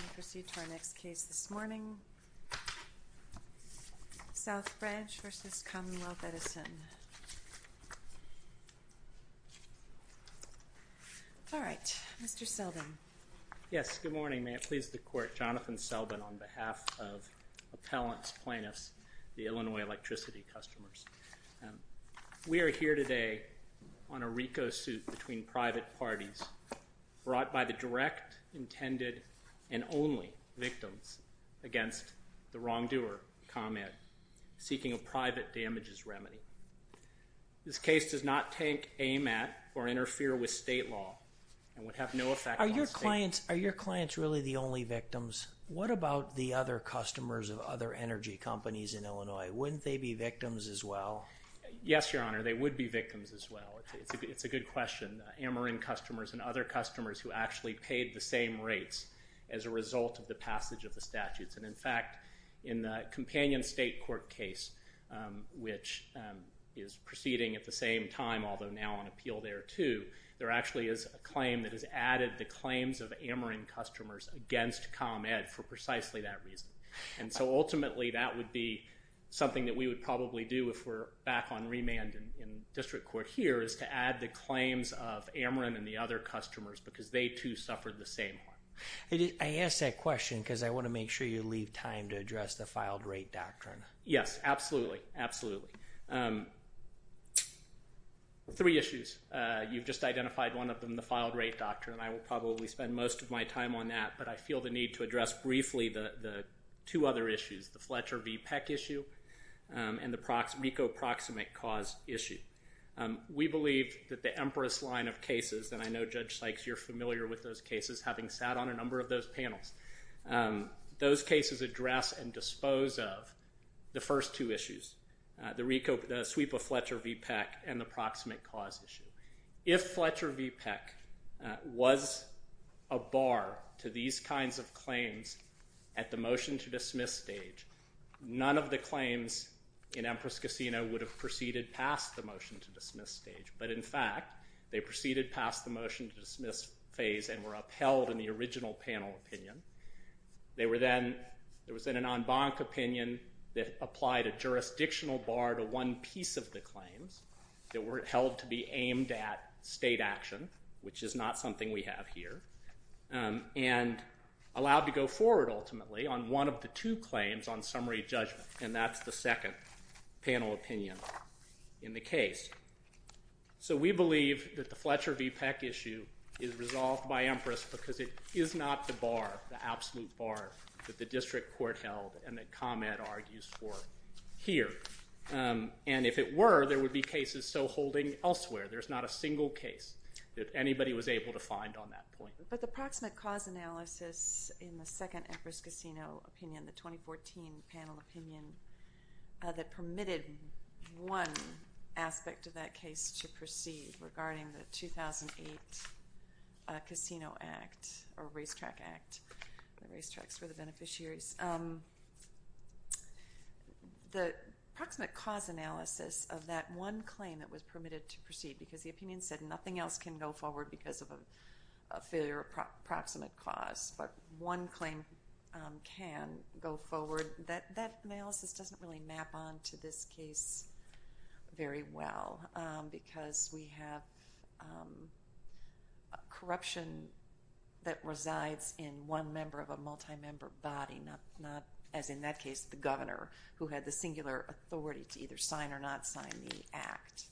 We'll proceed to our next case this morning, South Branch v. Commonwealth Edison. All right, Mr. Selbin. Yes, good morning. May it please the Court, Jonathan Selbin on behalf of appellants, plaintiffs, the Illinois Electricity customers. We are here today on a RICO suit between private parties brought by the direct, intended, and only victims against the wrongdoer, ComEd, seeking a private damages remedy. This case does not take aim at or interfere with state law and would have no effect on state law. Are your clients really the only victims? What about the other customers of other energy companies in Illinois? Wouldn't they be victims as well? Yes, Your Honor, they would be victims as well. It's a good question. Ameren customers and other customers who actually paid the same rates as a result of the passage of the statutes. And in fact, in the companion state court case, which is proceeding at the same time, although now on appeal there too, there actually is a claim that has added the claims of Ameren customers against ComEd for precisely that reason. And so ultimately, that would be something that we would probably do if we're back on remand in district court here is to add the claims of Ameren and the other customers because they too suffered the same harm. I asked that question because I want to make sure you leave time to address the filed rate doctrine. Yes, absolutely. Absolutely. Three issues. You've just identified one of them, the filed rate doctrine. I will probably spend most of my time on that, but I feel the need to address briefly the two other issues, the Fletcher v. Peck issue and the RICO proximate cause issue. We believe that the Empress line of cases, and I know Judge Sykes, you're familiar with those cases, having sat on a number of those panels. Those cases address and dispose of the first two issues, the sweep of Fletcher v. Peck and the proximate cause issue. If Fletcher v. Peck was a bar to these kinds of claims at the motion-to-dismiss stage, none of the claims in Empress Casino would have proceeded past the motion-to-dismiss stage. But in fact, they proceeded past the motion-to-dismiss phase and were upheld in the original panel opinion. There was then an en banc opinion that applied a jurisdictional bar to one piece of the claims that were held to be aimed at state action, which is not something we have here, and allowed to go forward ultimately on one of the two claims on summary judgment, and that's the second panel opinion in the case. So we believe that the Fletcher v. Peck issue is resolved by Empress because it is not the bar, the absolute bar, that the district court held and that ComEd argues for here. And if it were, there would be cases still holding elsewhere. There's not a single case that anybody was able to find on that point. But the proximate cause analysis in the second Empress Casino opinion, the 2014 panel opinion that permitted one aspect of that case to proceed regarding the 2008 Casino Act or Racetrack Act, the racetracks for the beneficiaries, the proximate cause analysis of that one claim that was permitted to proceed because the opinion said nothing else can go forward because of a failure of proximate cause, but one claim can go forward. That analysis doesn't really map on to this case very well because we have corruption that resides in one member of a multi-member body, not, as in that case, the governor who had the singular authority to either sign or not sign the act.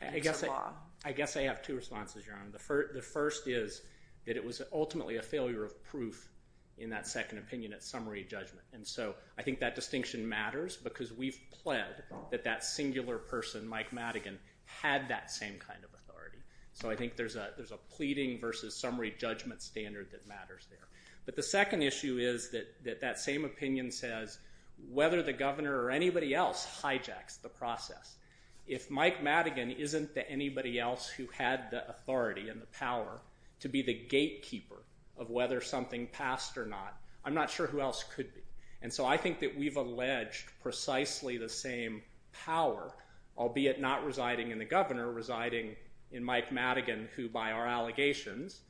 I guess I have two responses, Your Honor. The first is that it was ultimately a failure of proof in that second opinion at summary judgment. And so I think that distinction matters because we've pled that that singular person, Mike Madigan, had that same kind of authority. So I think there's a pleading versus summary judgment standard that matters there. But the second issue is that that same opinion says whether the governor or anybody else hijacks the process. If Mike Madigan isn't the anybody else who had the authority and the power to be the gatekeeper of whether something passed or not, I'm not sure who else could be. And so I think that we've alleged precisely the same power, albeit not residing in the governor, residing in Mike Madigan who, by our allegations,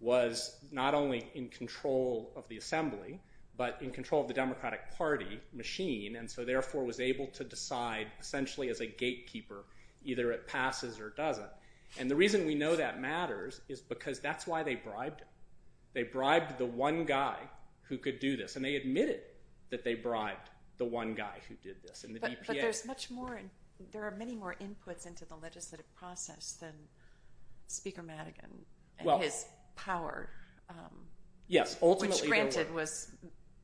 was not only in control of the assembly but in control of the Democratic Party machine and so therefore was able to decide essentially as a gatekeeper, either it passes or doesn't. And the reason we know that matters is because that's why they bribed him. They bribed the one guy who could do this. And they admitted that they bribed the one guy who did this. But there's much more, there are many more inputs into the legislative process than Speaker Madigan and his power. Yes, ultimately there were. Which granted was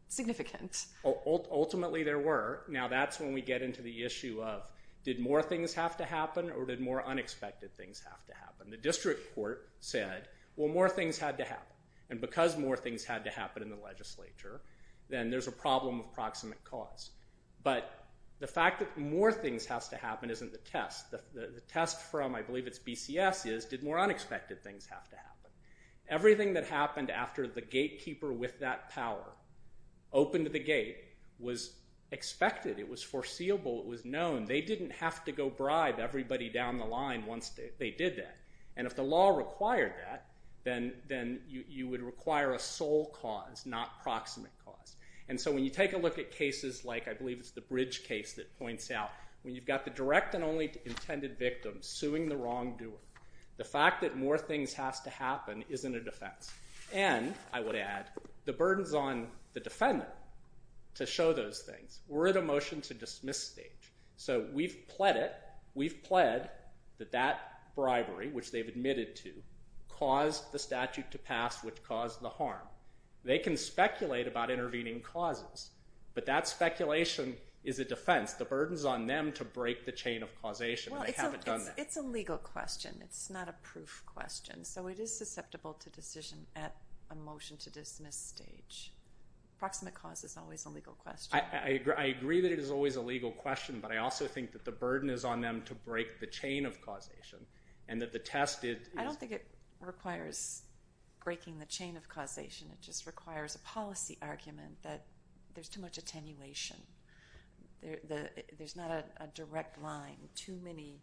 significant. Ultimately there were. Now that's when we get into the issue of did more things have to happen or did more unexpected things have to happen? The district court said, well, more things had to happen. And because more things had to happen in the legislature, then there's a problem of proximate cause. But the fact that more things have to happen isn't the test. The test from, I believe it's BCS, is did more unexpected things have to happen? Everything that happened after the gatekeeper with that power opened the gate was expected. It was foreseeable. It was known. They didn't have to go bribe everybody down the line once they did that. And if the law required that, then you would require a sole cause, not proximate cause. And so when you take a look at cases like, I believe it's the Bridge case that points out, when you've got the direct and only intended victim suing the wrongdoer, the fact that more things have to happen isn't a defense. And, I would add, the burden's on the defender to show those things. We're at a motion-to-dismiss stage. So we've pled it. We've pled that that bribery, which they've admitted to, caused the statute to pass, which caused the harm. They can speculate about intervening causes, but that speculation is a defense. The burden's on them to break the chain of causation, and they haven't done that. It's a legal question. It's not a proof question. So it is susceptible to decision at a motion-to-dismiss stage. Proximate cause is always a legal question. I agree that it is always a legal question, but I also think that the burden is on them to break the chain of causation, and that the test is— I don't think it requires breaking the chain of causation. It just requires a policy argument that there's too much attenuation. There's not a direct line. Too many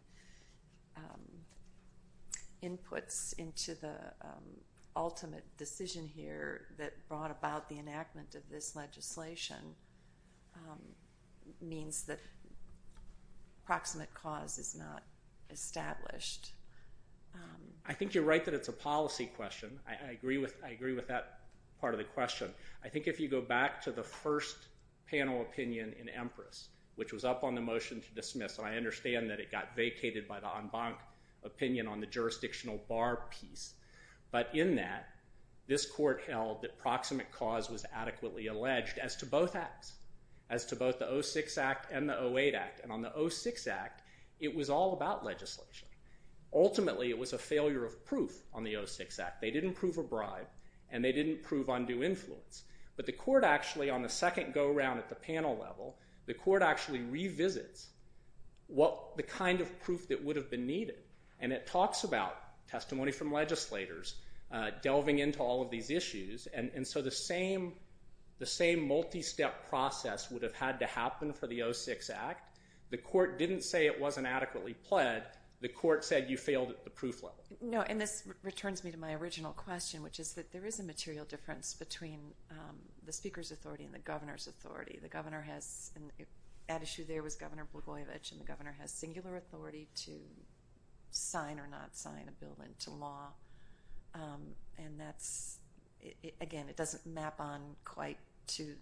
inputs into the ultimate decision here that brought about the enactment of this legislation means that proximate cause is not established. I think you're right that it's a policy question. I agree with that part of the question. I think if you go back to the first panel opinion in Empress, which was up on the motion-to-dismiss, and I understand that it got vacated by the en banc opinion on the jurisdictional bar piece, but in that, this court held that proximate cause was adequately alleged as to both acts, as to both the 06 Act and the 08 Act. And on the 06 Act, it was all about legislation. Ultimately, it was a failure of proof on the 06 Act. They didn't prove a bribe, and they didn't prove undue influence. But the court actually, on the second go-around at the panel level, the court actually revisits the kind of proof that would have been needed, and it talks about testimony from legislators delving into all of these issues. And so the same multi-step process would have had to happen for the 06 Act. The court didn't say it wasn't adequately pled. The court said you failed at the proof level. No, and this returns me to my original question, which is that there is a material difference between the speaker's authority and the governor's authority. The governor has, and at issue there was Governor Blagojevich, and the governor has singular authority to sign or not sign a bill into law. And that's – again, it doesn't map on quite to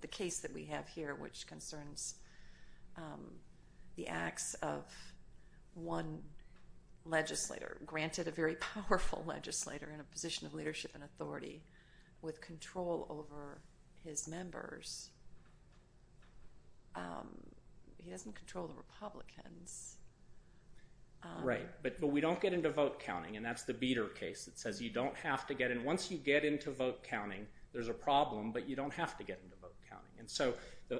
the case that we have here, which concerns the acts of one legislator. Granted, a very powerful legislator in a position of leadership and authority with control over his members, he doesn't control the Republicans. Right, but we don't get into vote counting, and that's the Beader case that says you don't have to get in. Once you get into vote counting, there's a problem, but you don't have to get into vote counting. And so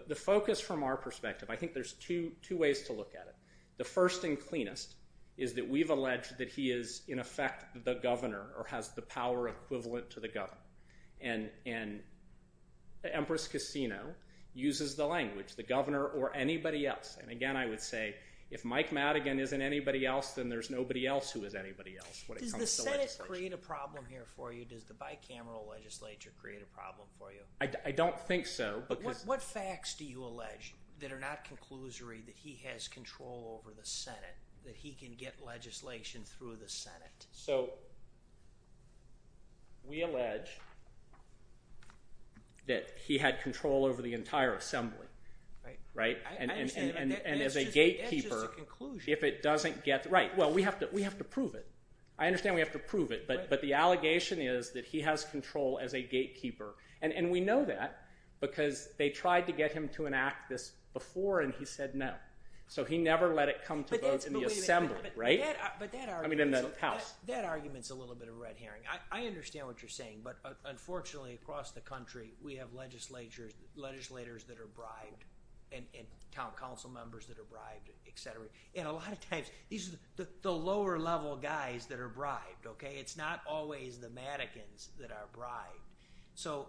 the focus from our perspective, I think there's two ways to look at it. The first and cleanest is that we've alleged that he is, in effect, the governor or has the power equivalent to the governor. And Empress Casino uses the language, the governor or anybody else. And again, I would say if Mike Madigan isn't anybody else, then there's nobody else who is anybody else when it comes to legislation. Does the Senate create a problem here for you? Does the bicameral legislature create a problem for you? I don't think so. What facts do you allege that are not conclusory that he has control over the Senate, that he can get legislation through the Senate? So we allege that he had control over the entire Assembly, right? And as a gatekeeper, if it doesn't get – right, well, we have to prove it. I understand we have to prove it, but the allegation is that he has control as a gatekeeper. And we know that because they tried to get him to enact this before, and he said no. So he never let it come to vote in the Assembly, right? I mean in the House. That argument is a little bit of a red herring. I understand what you're saying, but unfortunately, across the country, we have legislators that are bribed and council members that are bribed, etc. And a lot of times, these are the lower-level guys that are bribed. It's not always the Madigans that are bribed. So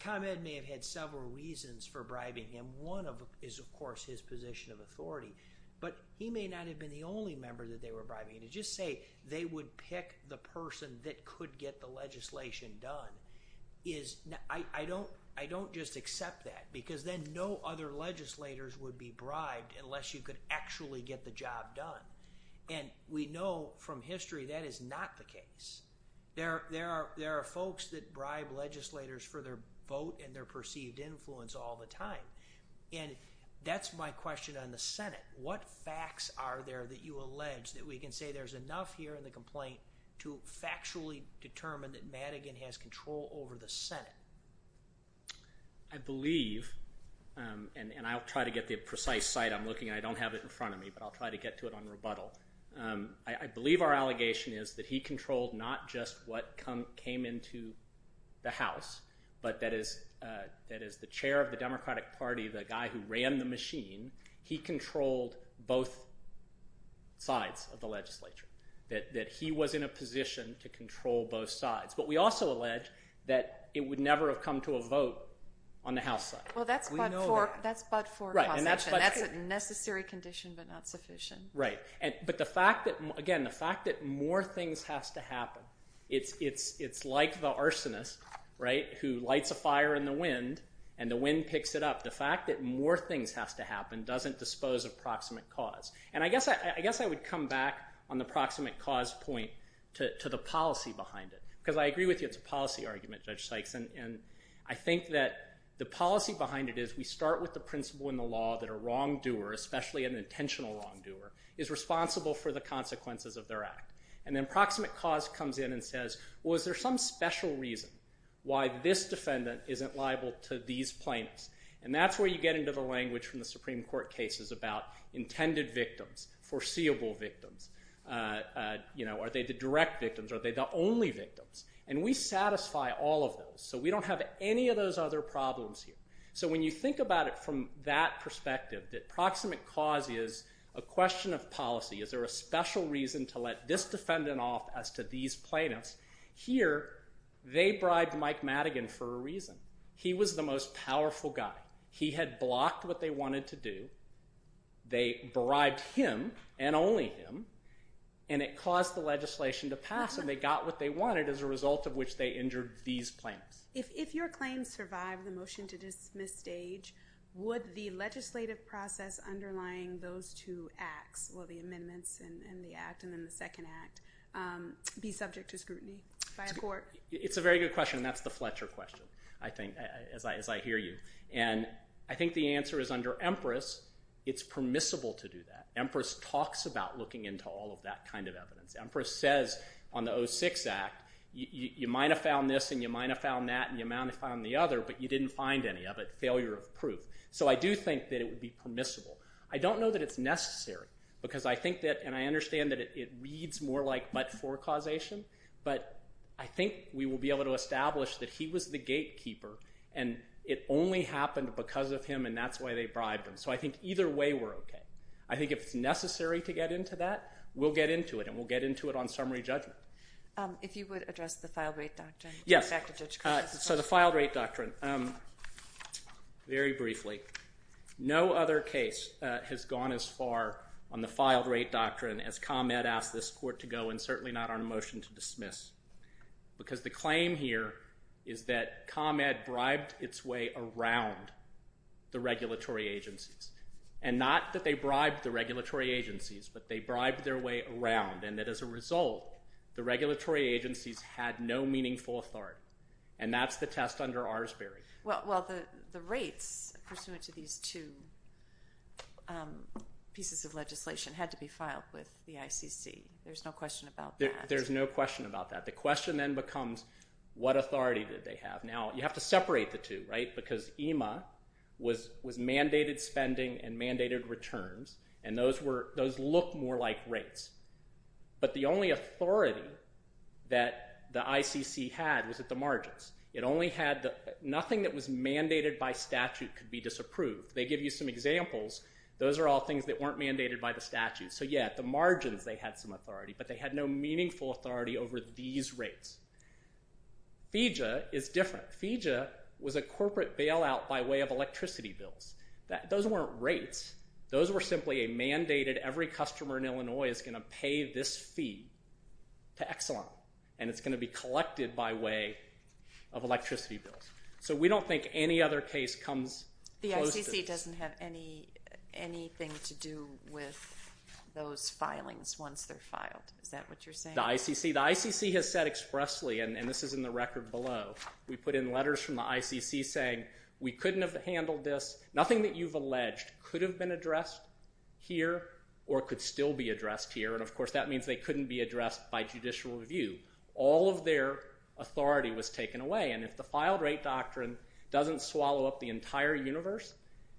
ComEd may have had several reasons for bribing him. One is, of course, his position of authority. But he may not have been the only member that they were bribing. And to just say they would pick the person that could get the legislation done is – I don't just accept that, because then no other legislators would be bribed unless you could actually get the job done. And we know from history that is not the case. There are folks that bribe legislators for their vote and their perceived influence all the time. And that's my question on the Senate. What facts are there that you allege that we can say there's enough here in the complaint to factually determine that Madigan has control over the Senate? I believe – and I'll try to get the precise site I'm looking at. I don't have it in front of me, but I'll try to get to it on rebuttal. I believe our allegation is that he controlled not just what came into the House, but that as the chair of the Democratic Party, the guy who ran the machine, he controlled both sides of the legislature. That he was in a position to control both sides. But we also allege that it would never have come to a vote on the House side. Well, that's but for possession. Right. That's a necessary condition but not sufficient. Right. But the fact that – again, the fact that more things have to happen. It's like the arsonist, right, who lights a fire in the wind and the wind picks it up. The fact that more things have to happen doesn't dispose of proximate cause. And I guess I would come back on the proximate cause point to the policy behind it. Because I agree with you, it's a policy argument, Judge Sykes. And I think that the policy behind it is we start with the principle in the law that a wrongdoer, especially an intentional wrongdoer, is responsible for the consequences of their act. And then proximate cause comes in and says, well, is there some special reason why this defendant isn't liable to these plaintiffs? And that's where you get into the language from the Supreme Court cases about intended victims, foreseeable victims. Are they the direct victims? Are they the only victims? And we satisfy all of those. So we don't have any of those other problems here. So when you think about it from that perspective, that proximate cause is a question of policy. Is there a special reason to let this defendant off as to these plaintiffs? Here, they bribed Mike Madigan for a reason. He was the most powerful guy. He had blocked what they wanted to do. They bribed him and only him. And it caused the legislation to pass, and they got what they wanted as a result of which they injured these plaintiffs. If your claim survived the motion to dismiss stage, would the legislative process underlying those two acts, well, the amendments and the act and then the second act, be subject to scrutiny by a court? It's a very good question, and that's the Fletcher question, I think, as I hear you. And I think the answer is under Empress, it's permissible to do that. Empress talks about looking into all of that kind of evidence. Empress says on the 06 Act, you might have found this and you might have found that and you might have found the other, but you didn't find any of it, failure of proof. So I do think that it would be permissible. I don't know that it's necessary because I think that, and I understand that it reads more like but-for causation, but I think we will be able to establish that he was the gatekeeper, and it only happened because of him, and that's why they bribed him. So I think either way, we're okay. I think if it's necessary to get into that, we'll get into it, and we'll get into it on summary judgment. If you would address the filed-rate doctrine. Yes. Back to Judge Cushman. So the filed-rate doctrine. Very briefly, no other case has gone as far on the filed-rate doctrine as ComEd asked this court to go and certainly not on a motion to dismiss because the claim here is that ComEd bribed its way around the regulatory agency. And not that they bribed the regulatory agencies, but they bribed their way around, and that as a result, the regulatory agencies had no meaningful authority. And that's the test under Arsbery. Well, the rates pursuant to these two pieces of legislation had to be filed with the ICC. There's no question about that. There's no question about that. The question then becomes what authority did they have. Now, you have to separate the two, right, because EMA was mandated spending and mandated returns, and those look more like rates. But the only authority that the ICC had was at the margins. Nothing that was mandated by statute could be disapproved. They give you some examples. Those are all things that weren't mandated by the statute. So, yeah, at the margins, they had some authority, but they had no meaningful authority over these rates. FEJA is different. FEJA was a corporate bailout by way of electricity bills. Those weren't rates. Those were simply a mandated every customer in Illinois is going to pay this fee to Exelon, and it's going to be collected by way of electricity bills. So we don't think any other case comes close to this. The ICC doesn't have anything to do with those filings once they're filed. Is that what you're saying? The ICC has said expressly, and this is in the record below, we put in letters from the ICC saying we couldn't have handled this. Nothing that you've alleged could have been addressed here or could still be addressed here, and, of course, that means they couldn't be addressed by judicial review. All of their authority was taken away, and if the filed rate doctrine doesn't swallow up the entire universe,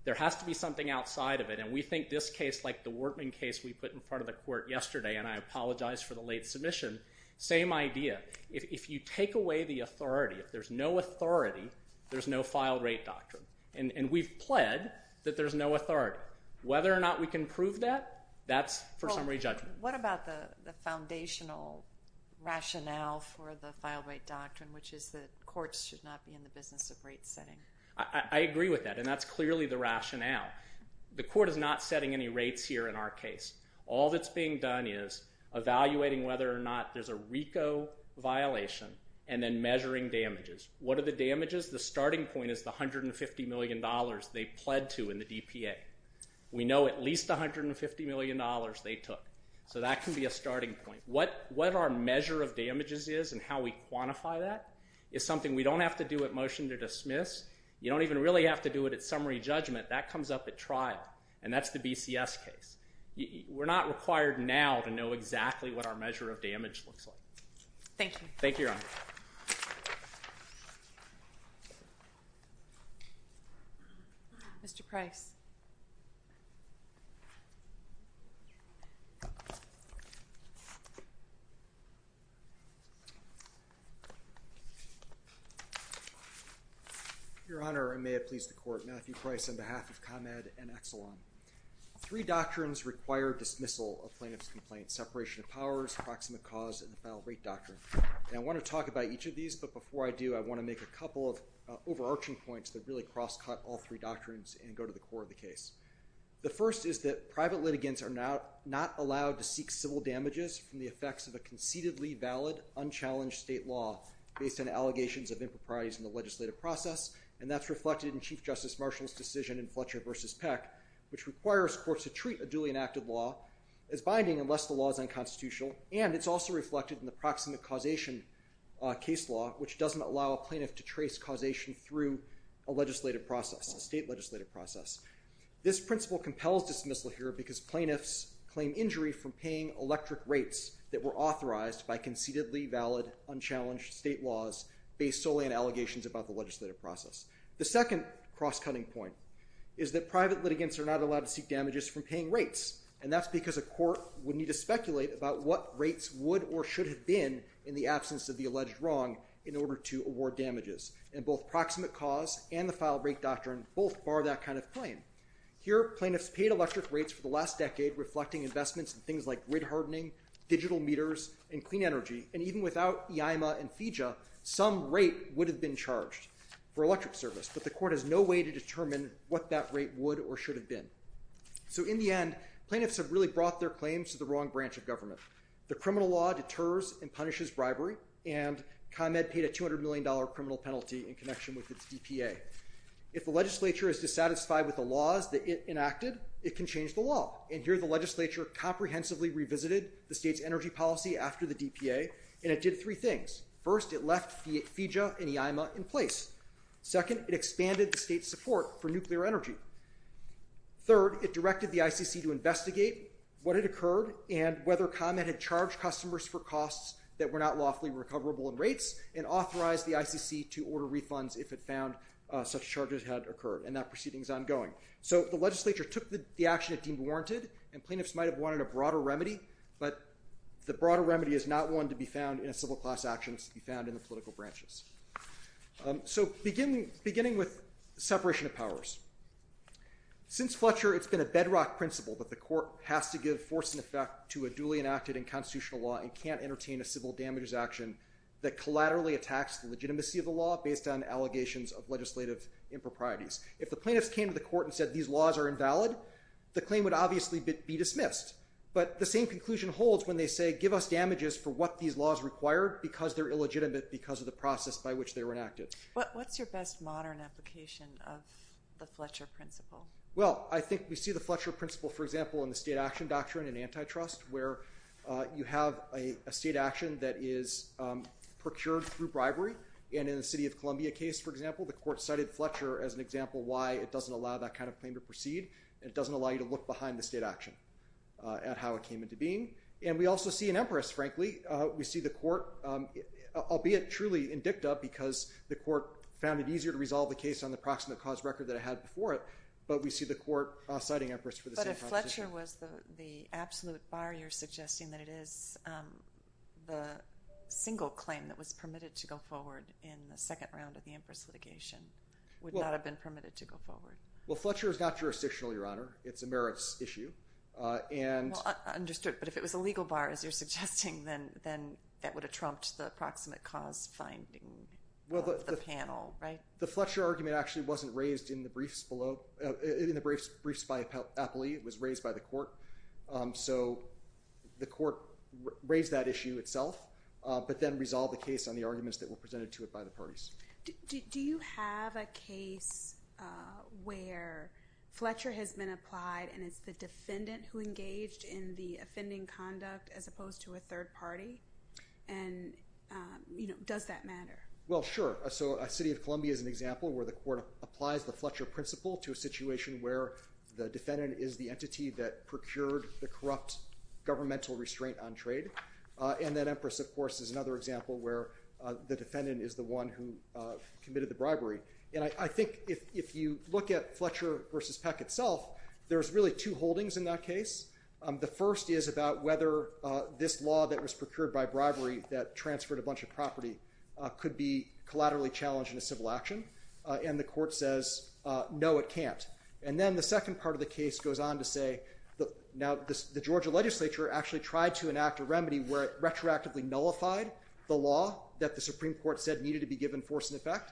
there has to be something outside of it, and we think this case, like the Wortman case we put in front of the court yesterday, and I apologize for the late submission, same idea. If you take away the authority, if there's no authority, there's no filed rate doctrine, and we've pled that there's no authority. Whether or not we can prove that, that's for some re-judgment. What about the foundational rationale for the filed rate doctrine, which is that courts should not be in the business of rate setting? I agree with that, and that's clearly the rationale. The court is not setting any rates here in our case. All that's being done is evaluating whether or not there's a RICO violation and then measuring damages. What are the damages? The starting point is the $150 million they pled to in the DPA. We know at least $150 million they took, so that can be a starting point. What our measure of damages is and how we quantify that is something we don't have to do at motion to dismiss. You don't even really have to do it at summary judgment. That comes up at trial, and that's the BCS case. We're not required now to know exactly what our measure of damage looks like. Thank you. Thank you, Your Honor. Mr. Price. Your Honor, and may it please the Court, Matthew Price on behalf of ComEd and Exelon. Three doctrines require dismissal of plaintiff's complaint, separation of powers, proximate cause, and the final rate doctrine. I want to talk about each of these, but before I do, I want to make a couple of overarching points that really cross-cut all three doctrines and go to the core of the case. The first is that private litigants are not allowed to seek civil damages from the effects of a concededly valid, unchallenged state law based on allegations of improprieties in the legislative process, which requires courts to treat a duly enacted law as binding unless the law is unconstitutional, and it's also reflected in the proximate causation case law, which doesn't allow a plaintiff to trace causation through a legislative process, a state legislative process. This principle compels dismissal here because plaintiffs claim injury from paying electric rates that were authorized by concededly valid, unchallenged state laws based solely on allegations about the legislative process. The second cross-cutting point is that private litigants are not allowed to seek damages from paying rates, and that's because a court would need to speculate about what rates would or should have been in the absence of the alleged wrong in order to award damages, and both proximate cause and the final rate doctrine both bar that kind of claim. Here, plaintiffs paid electric rates for the last decade reflecting investments in things like grid hardening, digital meters, and clean energy, and even without IAIMA and FEJA, some rate would have been charged. For electric service, but the court has no way to determine what that rate would or should have been. So in the end, plaintiffs have really brought their claims to the wrong branch of government. The criminal law deters and punishes bribery, and ComEd paid a $200 million criminal penalty in connection with its DPA. If the legislature is dissatisfied with the laws that it enacted, it can change the law, and here the legislature comprehensively revisited the state's energy policy after the DPA, and it did three things. First, it left FEJA and IAIMA in place. Second, it expanded the state's support for nuclear energy. Third, it directed the ICC to investigate what had occurred and whether ComEd had charged customers for costs that were not lawfully recoverable in rates and authorized the ICC to order refunds if it found such charges had occurred, and that proceeding is ongoing. So the legislature took the action it deemed warranted, and plaintiffs might have wanted a broader remedy, but the broader remedy is not one to be found in a civil class action. It's to be found in the political branches. So beginning with separation of powers. Since Fletcher, it's been a bedrock principle that the court has to give force and effect to a duly enacted and constitutional law and can't entertain a civil damages action that collaterally attacks the legitimacy of the law based on allegations of legislative improprieties. If the plaintiffs came to the court and said these laws are invalid, the claim would obviously be dismissed, but the same conclusion holds when they say they give us damages for what these laws require because they're illegitimate because of the process by which they were enacted. What's your best modern application of the Fletcher principle? Well, I think we see the Fletcher principle, for example, in the state action doctrine in antitrust, where you have a state action that is procured through bribery, and in the city of Columbia case, for example, the court cited Fletcher as an example why it doesn't allow that kind of claim to proceed, and it doesn't allow you to look behind the state action at how it came into being. And we also see in Empress, frankly, we see the court, albeit truly in dicta, because the court found it easier to resolve the case on the proximate cause record that it had before it, but we see the court citing Empress for the same proposition. But if Fletcher was the absolute bar, you're suggesting that it is the single claim that was permitted to go forward in the second round of the Empress litigation would not have been permitted to go forward. Well, Fletcher is not jurisdictional, Your Honor. It's a merits issue. Understood. But if it was a legal bar, as you're suggesting, then that would have trumped the proximate cause finding of the panel, right? The Fletcher argument actually wasn't raised in the briefs below, in the briefs by Apolli. It was raised by the court. So the court raised that issue itself, but then resolved the case on the arguments that were presented to it by the parties. Do you have a case where Fletcher has been applied and it's the defendant who engaged in the offending conduct as opposed to a third party? And does that matter? Well, sure. So a city of Columbia is an example where the court applies the Fletcher principle to a situation where the defendant is the entity that procured the corrupt governmental restraint on trade. And then Empress, of course, is another example where the defendant is the one who committed the bribery. And I think if you look at Fletcher versus Peck itself, there's really two holdings in that case. The first is about whether this law that was procured by bribery that transferred a bunch of property could be collaterally challenged in a civil action. And the court says, no, it can't. And then the second part of the case goes on to say, now the Georgia legislature actually tried to enact a remedy where it retroactively nullified the law that the Supreme Court said needed to be given force and effect.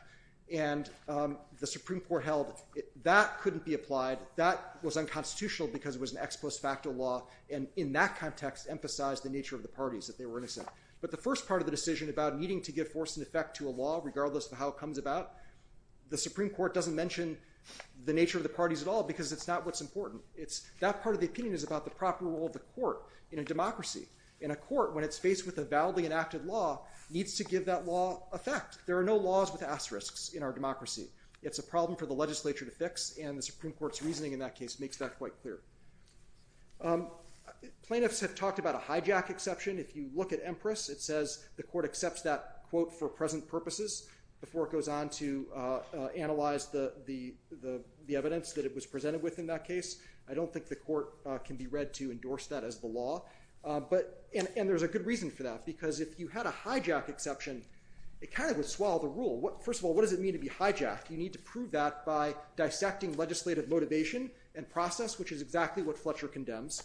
And the Supreme Court held that couldn't be applied. That was unconstitutional because it was an ex post facto law, and in that context emphasized the nature of the parties that they were innocent. But the first part of the decision about needing to give force and effect to a law, regardless of how it comes about, the Supreme Court doesn't mention the nature of the parties at all because it's not what's important. That part of the opinion is about the proper role of the court in a democracy. And a court, when it's faced with a validly enacted law, needs to give that law effect. There are no laws with asterisks in our democracy. It's a problem for the legislature to fix, and the Supreme Court's reasoning in that case makes that quite clear. Plaintiffs have talked about a hijack exception. If you look at Empress, it says the court accepts that quote for present purposes before it goes on to analyze the evidence that it was presented with in that case. I don't think the court can be read to endorse that as the law. And there's a good reason for that, because if you had a hijack exception, it kind of would swallow the rule. First of all, what does it mean to be hijacked? You need to prove that by dissecting legislative motivation and process, which is exactly what Fletcher condemns.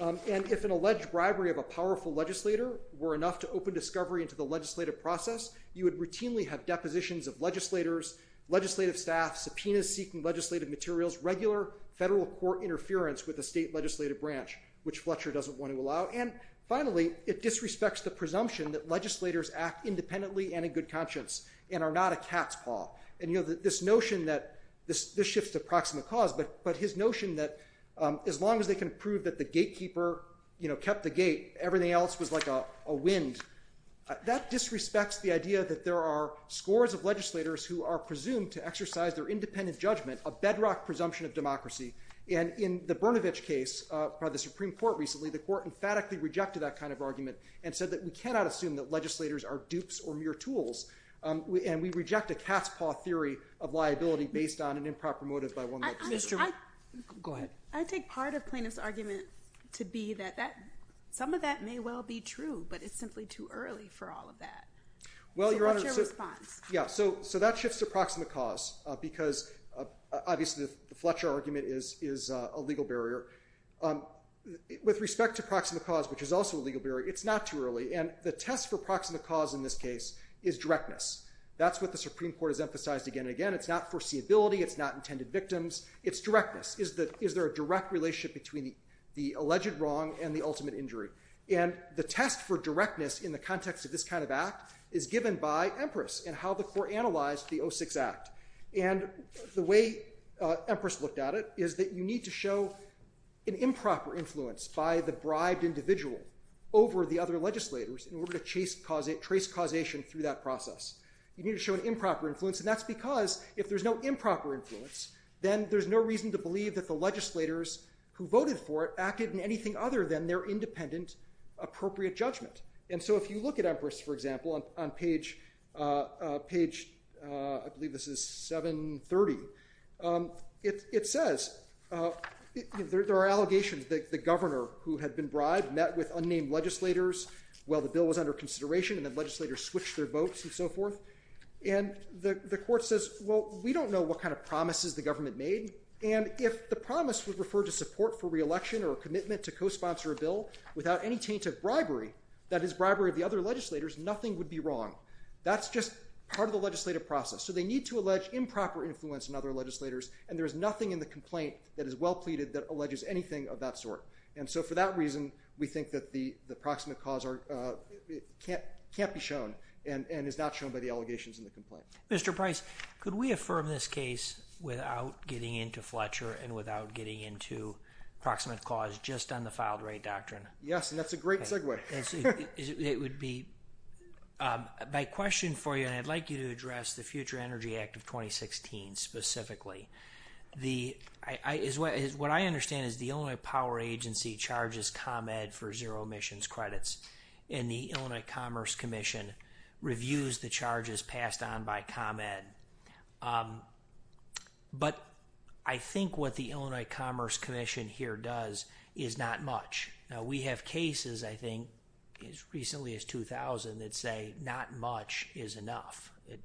And if an alleged bribery of a powerful legislator were enough to open discovery into the legislative process, you would routinely have depositions of legislators, legislative staff, subpoenas seeking legislative materials, regular federal court interference with the state legislative branch, which Fletcher doesn't want to allow. And finally, it disrespects the presumption that legislators act independently and in good conscience and are not a cat's paw. And this notion that this shifts to proximate cause, but his notion that as long as they can prove that the gatekeeper kept the gate, everything else was like a wind, that disrespects the idea that there are scores of legislators who are presumed to exercise their independent judgment, a bedrock presumption of democracy. And in the Brnovich case by the Supreme Court recently, the court emphatically rejected that kind of argument and said that we cannot assume that legislators are dupes or mere tools. And we reject a cat's paw theory of liability based on an improper motive by one legislator. I take part of plaintiff's argument to be that some of that may well be true, but it's simply too early for all of that. So what's your response? So that shifts to proximate cause, because obviously the Fletcher argument is a legal barrier. With respect to proximate cause, which is also a legal barrier, it's not too early. And the test for proximate cause in this case is directness. That's what the Supreme Court has emphasized again and again. It's not foreseeability. It's not intended victims. It's directness. Is there a direct relationship between the alleged wrong and the ultimate injury? And the test for directness in the context of this kind of act is given by Empress in how the court analyzed the 06 Act. And the way Empress looked at it is that you need to show an improper influence by the bribed individual over the other legislators in order to trace causation through that process. You need to show an improper influence. And that's because if there's no improper influence, then there's no reason to believe that the legislators who voted for it acted in anything other than their independent appropriate judgment. And so if you look at Empress, for example, on page, I believe this is 730, it says there are allegations that the governor who had been bribed met with unnamed legislators while the bill was under consideration. And the legislators switched their votes and so forth. And the court says, well, we don't know what kind of promises the government made. And if the promise was referred to support for re-election or a commitment to co-sponsor a bill without any taint of bribery, that is bribery of the other legislators, nothing would be wrong. That's just part of the legislative process. So they need to allege improper influence on other legislators. And there is nothing in the complaint that is well pleaded that alleges anything of that sort. And so for that reason, we think that the proximate cause can't be shown and is not shown by the allegations in the complaint. Mr. Price, could we affirm this case without getting into Fletcher and without getting into proximate cause just on the filed right doctrine? Yes, and that's a great segue. It would be my question for you, and I'd like you to address the Future Energy Act of 2016 specifically. What I understand is the Illinois Power Agency charges ComEd for zero emissions credits. And the Illinois Commerce Commission reviews the charges passed on by ComEd. But I think what the Illinois Commerce Commission here does is not much. We have cases, I think, as recently as 2000,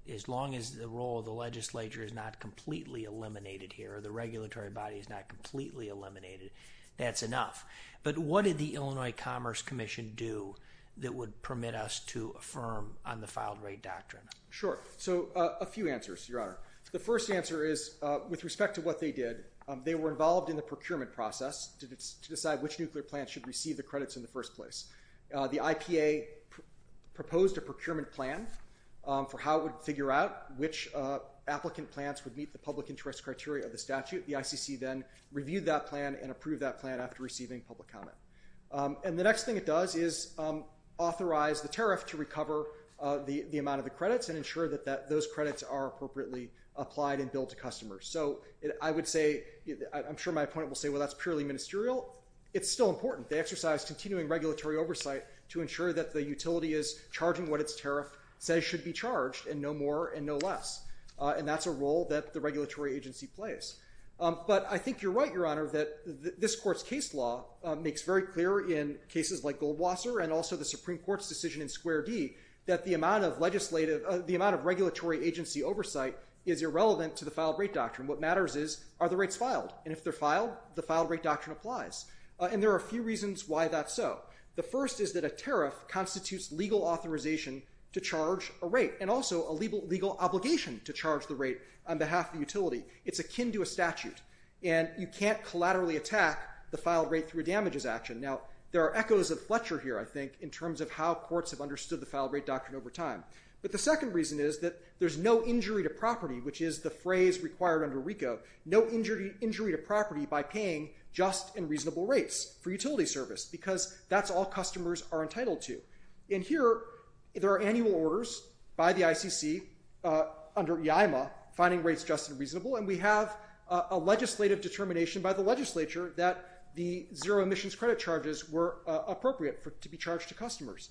As long as the role of the legislature is not completely eliminated here, the regulatory body is not completely eliminated, that's enough. But what did the Illinois Commerce Commission do that would permit us to affirm on the filed right doctrine? Sure. So a few answers, Your Honor. The first answer is, with respect to what they did, they were involved in the procurement process to decide which nuclear plant should receive the credits in the first place. The IPA proposed a procurement plan for how it would figure out which applicant plants would meet the public interest criteria of the statute. The ICC then reviewed that plan and approved that plan after receiving public comment. And the next thing it does is authorize the tariff to recover the amount of the credits and ensure that those credits are appropriately applied and billed to customers. So I would say, I'm sure my appointment will say, well, that's purely ministerial. It's still important. They exercise continuing regulatory oversight to ensure that the utility is charging what its tariff says should be charged and no more and no less. And that's a role that the regulatory agency plays. But I think you're right, Your Honor, that this court's case law makes very clear in cases like Goldwasser and also the Supreme Court's decision in Square D that the amount of legislative, the amount of regulatory agency oversight is irrelevant to the filed right doctrine. What matters is, are the rights filed? And if they're filed, the filed right doctrine applies. And there are a few reasons why that's so. The first is that a tariff constitutes legal authorization to charge a rate and also a legal obligation to charge the rate on behalf of the utility. It's akin to a statute. And you can't collaterally attack the filed right through a damages action. Now, there are echoes of Fletcher here, I think, in terms of how courts have understood the filed right doctrine over time. But the second reason is that there's no injury to property, which is the phrase required under RICO, no injury to property by paying just and reasonable rates for utility service. Because that's all customers are entitled to. And here, there are annual orders by the ICC under IAIMA, finding rates just and reasonable. And we have a legislative determination by the legislature that the zero emissions credit charges were appropriate to be charged to customers.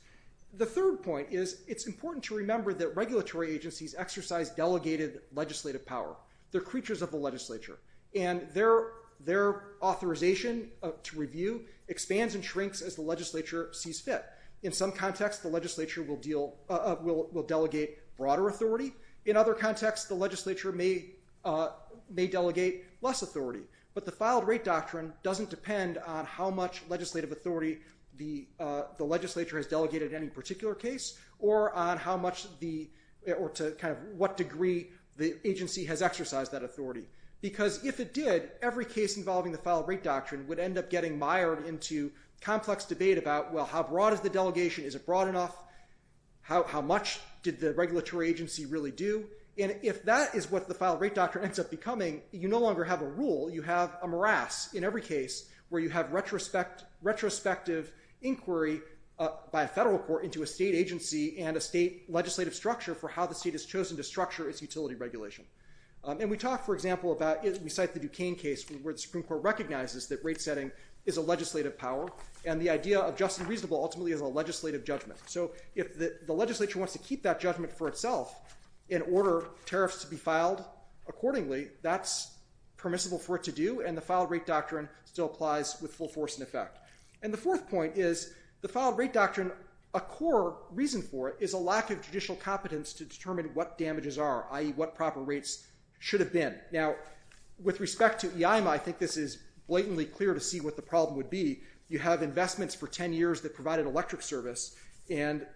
The third point is, it's important to remember that regulatory agencies exercise delegated legislative power. They're creatures of the legislature. And their authorization to review expands and shrinks as the legislature sees fit. In some contexts, the legislature will delegate broader authority. In other contexts, the legislature may delegate less authority. But the filed right doctrine doesn't depend on how much legislative authority the legislature has delegated in any particular case or to what degree the agency has exercised that authority. Because if it did, every case involving the filed right doctrine would end up getting mired into complex debate about, well, how broad is the delegation? Is it broad enough? How much did the regulatory agency really do? And if that is what the filed right doctrine ends up becoming, you no longer have a rule. You have a morass in every case where you have retrospective inquiry by a federal court into a state agency and a state legislative structure for how the state has chosen to structure its utility regulation. And we talk, for example, about we cite the Duquesne case where the Supreme Court recognizes that rate setting is a legislative power. And the idea of just and reasonable ultimately is a legislative judgment. So if the legislature wants to keep that judgment for itself in order tariffs to be filed accordingly, that's permissible for it to do. And the filed right doctrine still applies with full force and effect. And the fourth point is the filed right doctrine, a core reason for it is a lack of judicial competence to determine what damages are, i.e. what proper rates should have been. Now, with respect to EIMA, I think this is blatantly clear to see what the problem would be. You have investments for 10 years that provide an electric service. And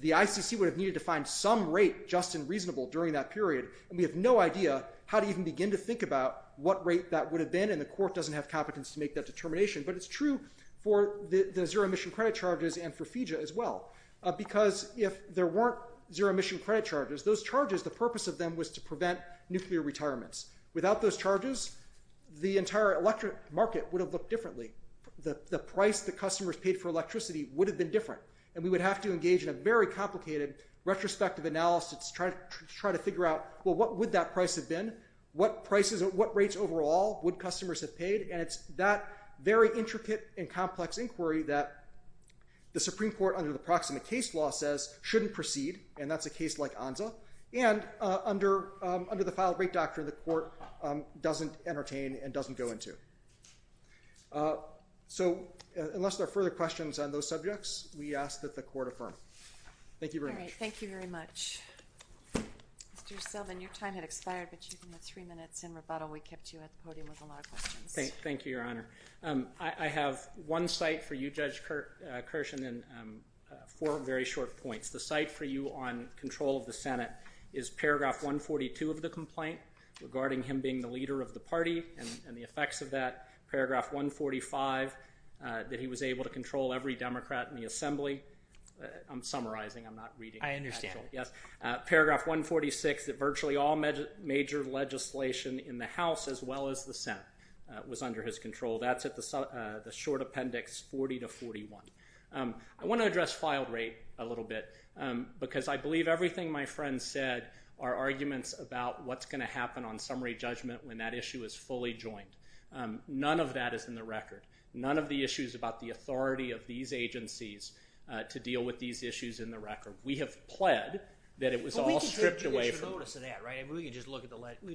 the ICC would have needed to find some rate just and reasonable during that period. And we have no idea how to even begin to think about what rate that would have been. And the court doesn't have competence to make that determination. But it's true for the zero emission credit charges and for FEJA as well. Because if there weren't zero emission credit charges, those charges, the purpose of them was to prevent nuclear retirements. Without those charges, the entire electric market would have looked differently. The price the customers paid for electricity would have been different. And we would have to engage in a very complicated retrospective analysis to try to figure out, well, what would that price have been? What rates overall would customers have paid? And it's that very intricate and complex inquiry that the Supreme Court, under the Proximate Case Law, says shouldn't proceed. And that's a case like ANZA. And under the Filed Rate Doctrine, the court doesn't entertain and doesn't go into. So unless there are further questions on those subjects, we ask that the court affirm. Thank you very much. All right. Thank you very much. Mr. Selvin, your time had expired. But you had three minutes in rebuttal. We kept you at the podium with a lot of questions. Thank you, Your Honor. I have one cite for you, Judge Kirshen, and four very short points. The cite for you on control of the Senate is paragraph 142 of the complaint regarding him being the leader of the party and the effects of that. Paragraph 145, that he was able to control every Democrat in the Assembly. I'm summarizing. I'm not reading. I understand. Yes. Paragraph 146, that virtually all major legislation in the House as well as the Senate was under his control. That's at the short appendix 40 to 41. I want to address filed rate a little bit, because I believe everything my friend said are arguments about what's going to happen on summary judgment when that issue is fully joined. None of that is in the record. None of the issues about the authority of these agencies to deal with these issues in the record. We have pled that it was all stripped away from. But we can take judicial notice of that, right? We can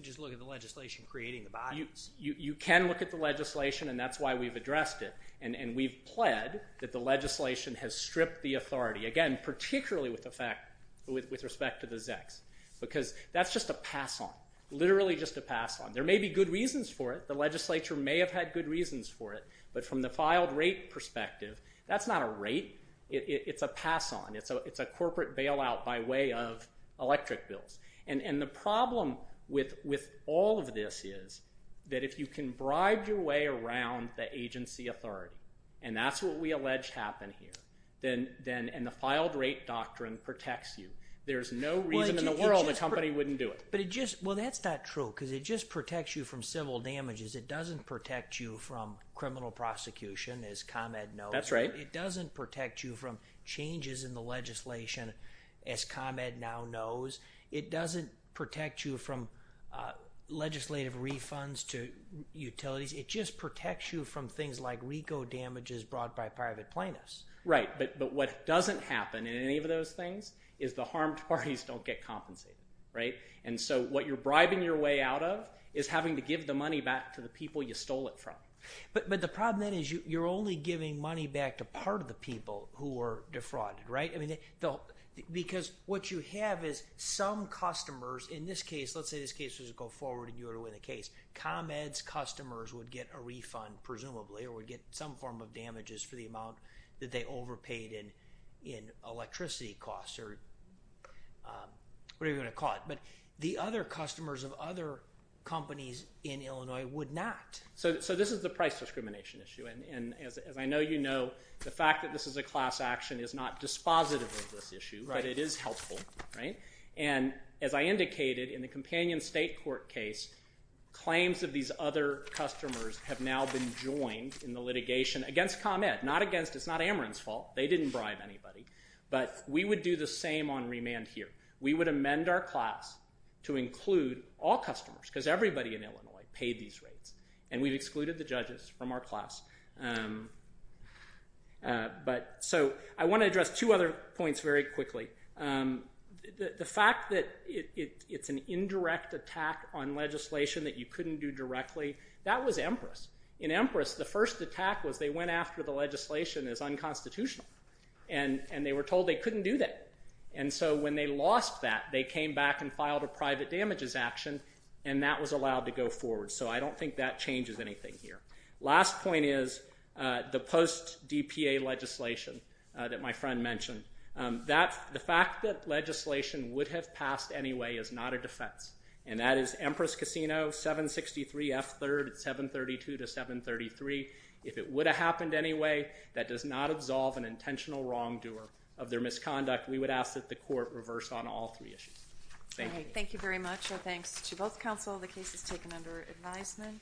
just look at the legislation creating the bias. You can look at the legislation, and that's why we've addressed it. And we've pled that the legislation has stripped the authority. Again, particularly with respect to the ZEX. Because that's just a pass-on. Literally just a pass-on. There may be good reasons for it. The legislature may have had good reasons for it. But from the filed rate perspective, that's not a rate. It's a pass-on. It's a corporate bailout by way of electric bills. And the problem with all of this is that if you can bribe your way around the agency authority, and that's what we allege happened here, and the filed rate doctrine protects you, there's no reason in the world the company wouldn't do it. Well, that's not true. Because it just protects you from civil damages. It doesn't protect you from criminal prosecution, as ComEd knows. That's right. It doesn't protect you from changes in the legislation, as ComEd now knows. It doesn't protect you from legislative refunds to utilities. It just protects you from things like RICO damages brought by private plaintiffs. Right. But what doesn't happen in any of those things is the harmed parties don't get compensated, right? And so what you're bribing your way out of is having to give the money back to the people you stole it from. But the problem then is you're only giving money back to part of the people who were defrauded, right? Because what you have is some customers, in this case, let's say this case was to go forward and you were to win the case, ComEd's customers would get a refund, presumably, or would get some form of damages for the amount that they overpaid in electricity costs or whatever you want to call it. But the other customers of other companies in Illinois would not. So this is the price discrimination issue. And as I know you know, the fact that this is a class action is not dispositive of this issue, but it is helpful, right? And as I indicated in the companion state court case, claims of these other customers have now been joined in the litigation against ComEd. Not against, it's not Ameren's fault. They didn't bribe anybody. But we would do the same on remand here. We would amend our class to include all customers, because everybody in Illinois paid these rates. And we've excluded the judges from our class. So I want to address two other points very quickly. The fact that it's an indirect attack on legislation that you couldn't do directly, that was Empress. In Empress, the first attack was they went after the legislation as unconstitutional. And they were told they couldn't do that. And so when they lost that, they came back and filed a private damages action, and that was allowed to go forward. So I don't think that changes anything here. Last point is the post-DPA legislation that my friend mentioned. The fact that legislation would have passed anyway is not a defense. And that is Empress Casino, 763 F3rd, 732 to 733. If it would have happened anyway, that does not absolve an intentional wrongdoer of their misconduct. We would ask that the court reverse on all three issues. Thank you. Thank you very much. Thanks to both counsel. The case is taken under advisement.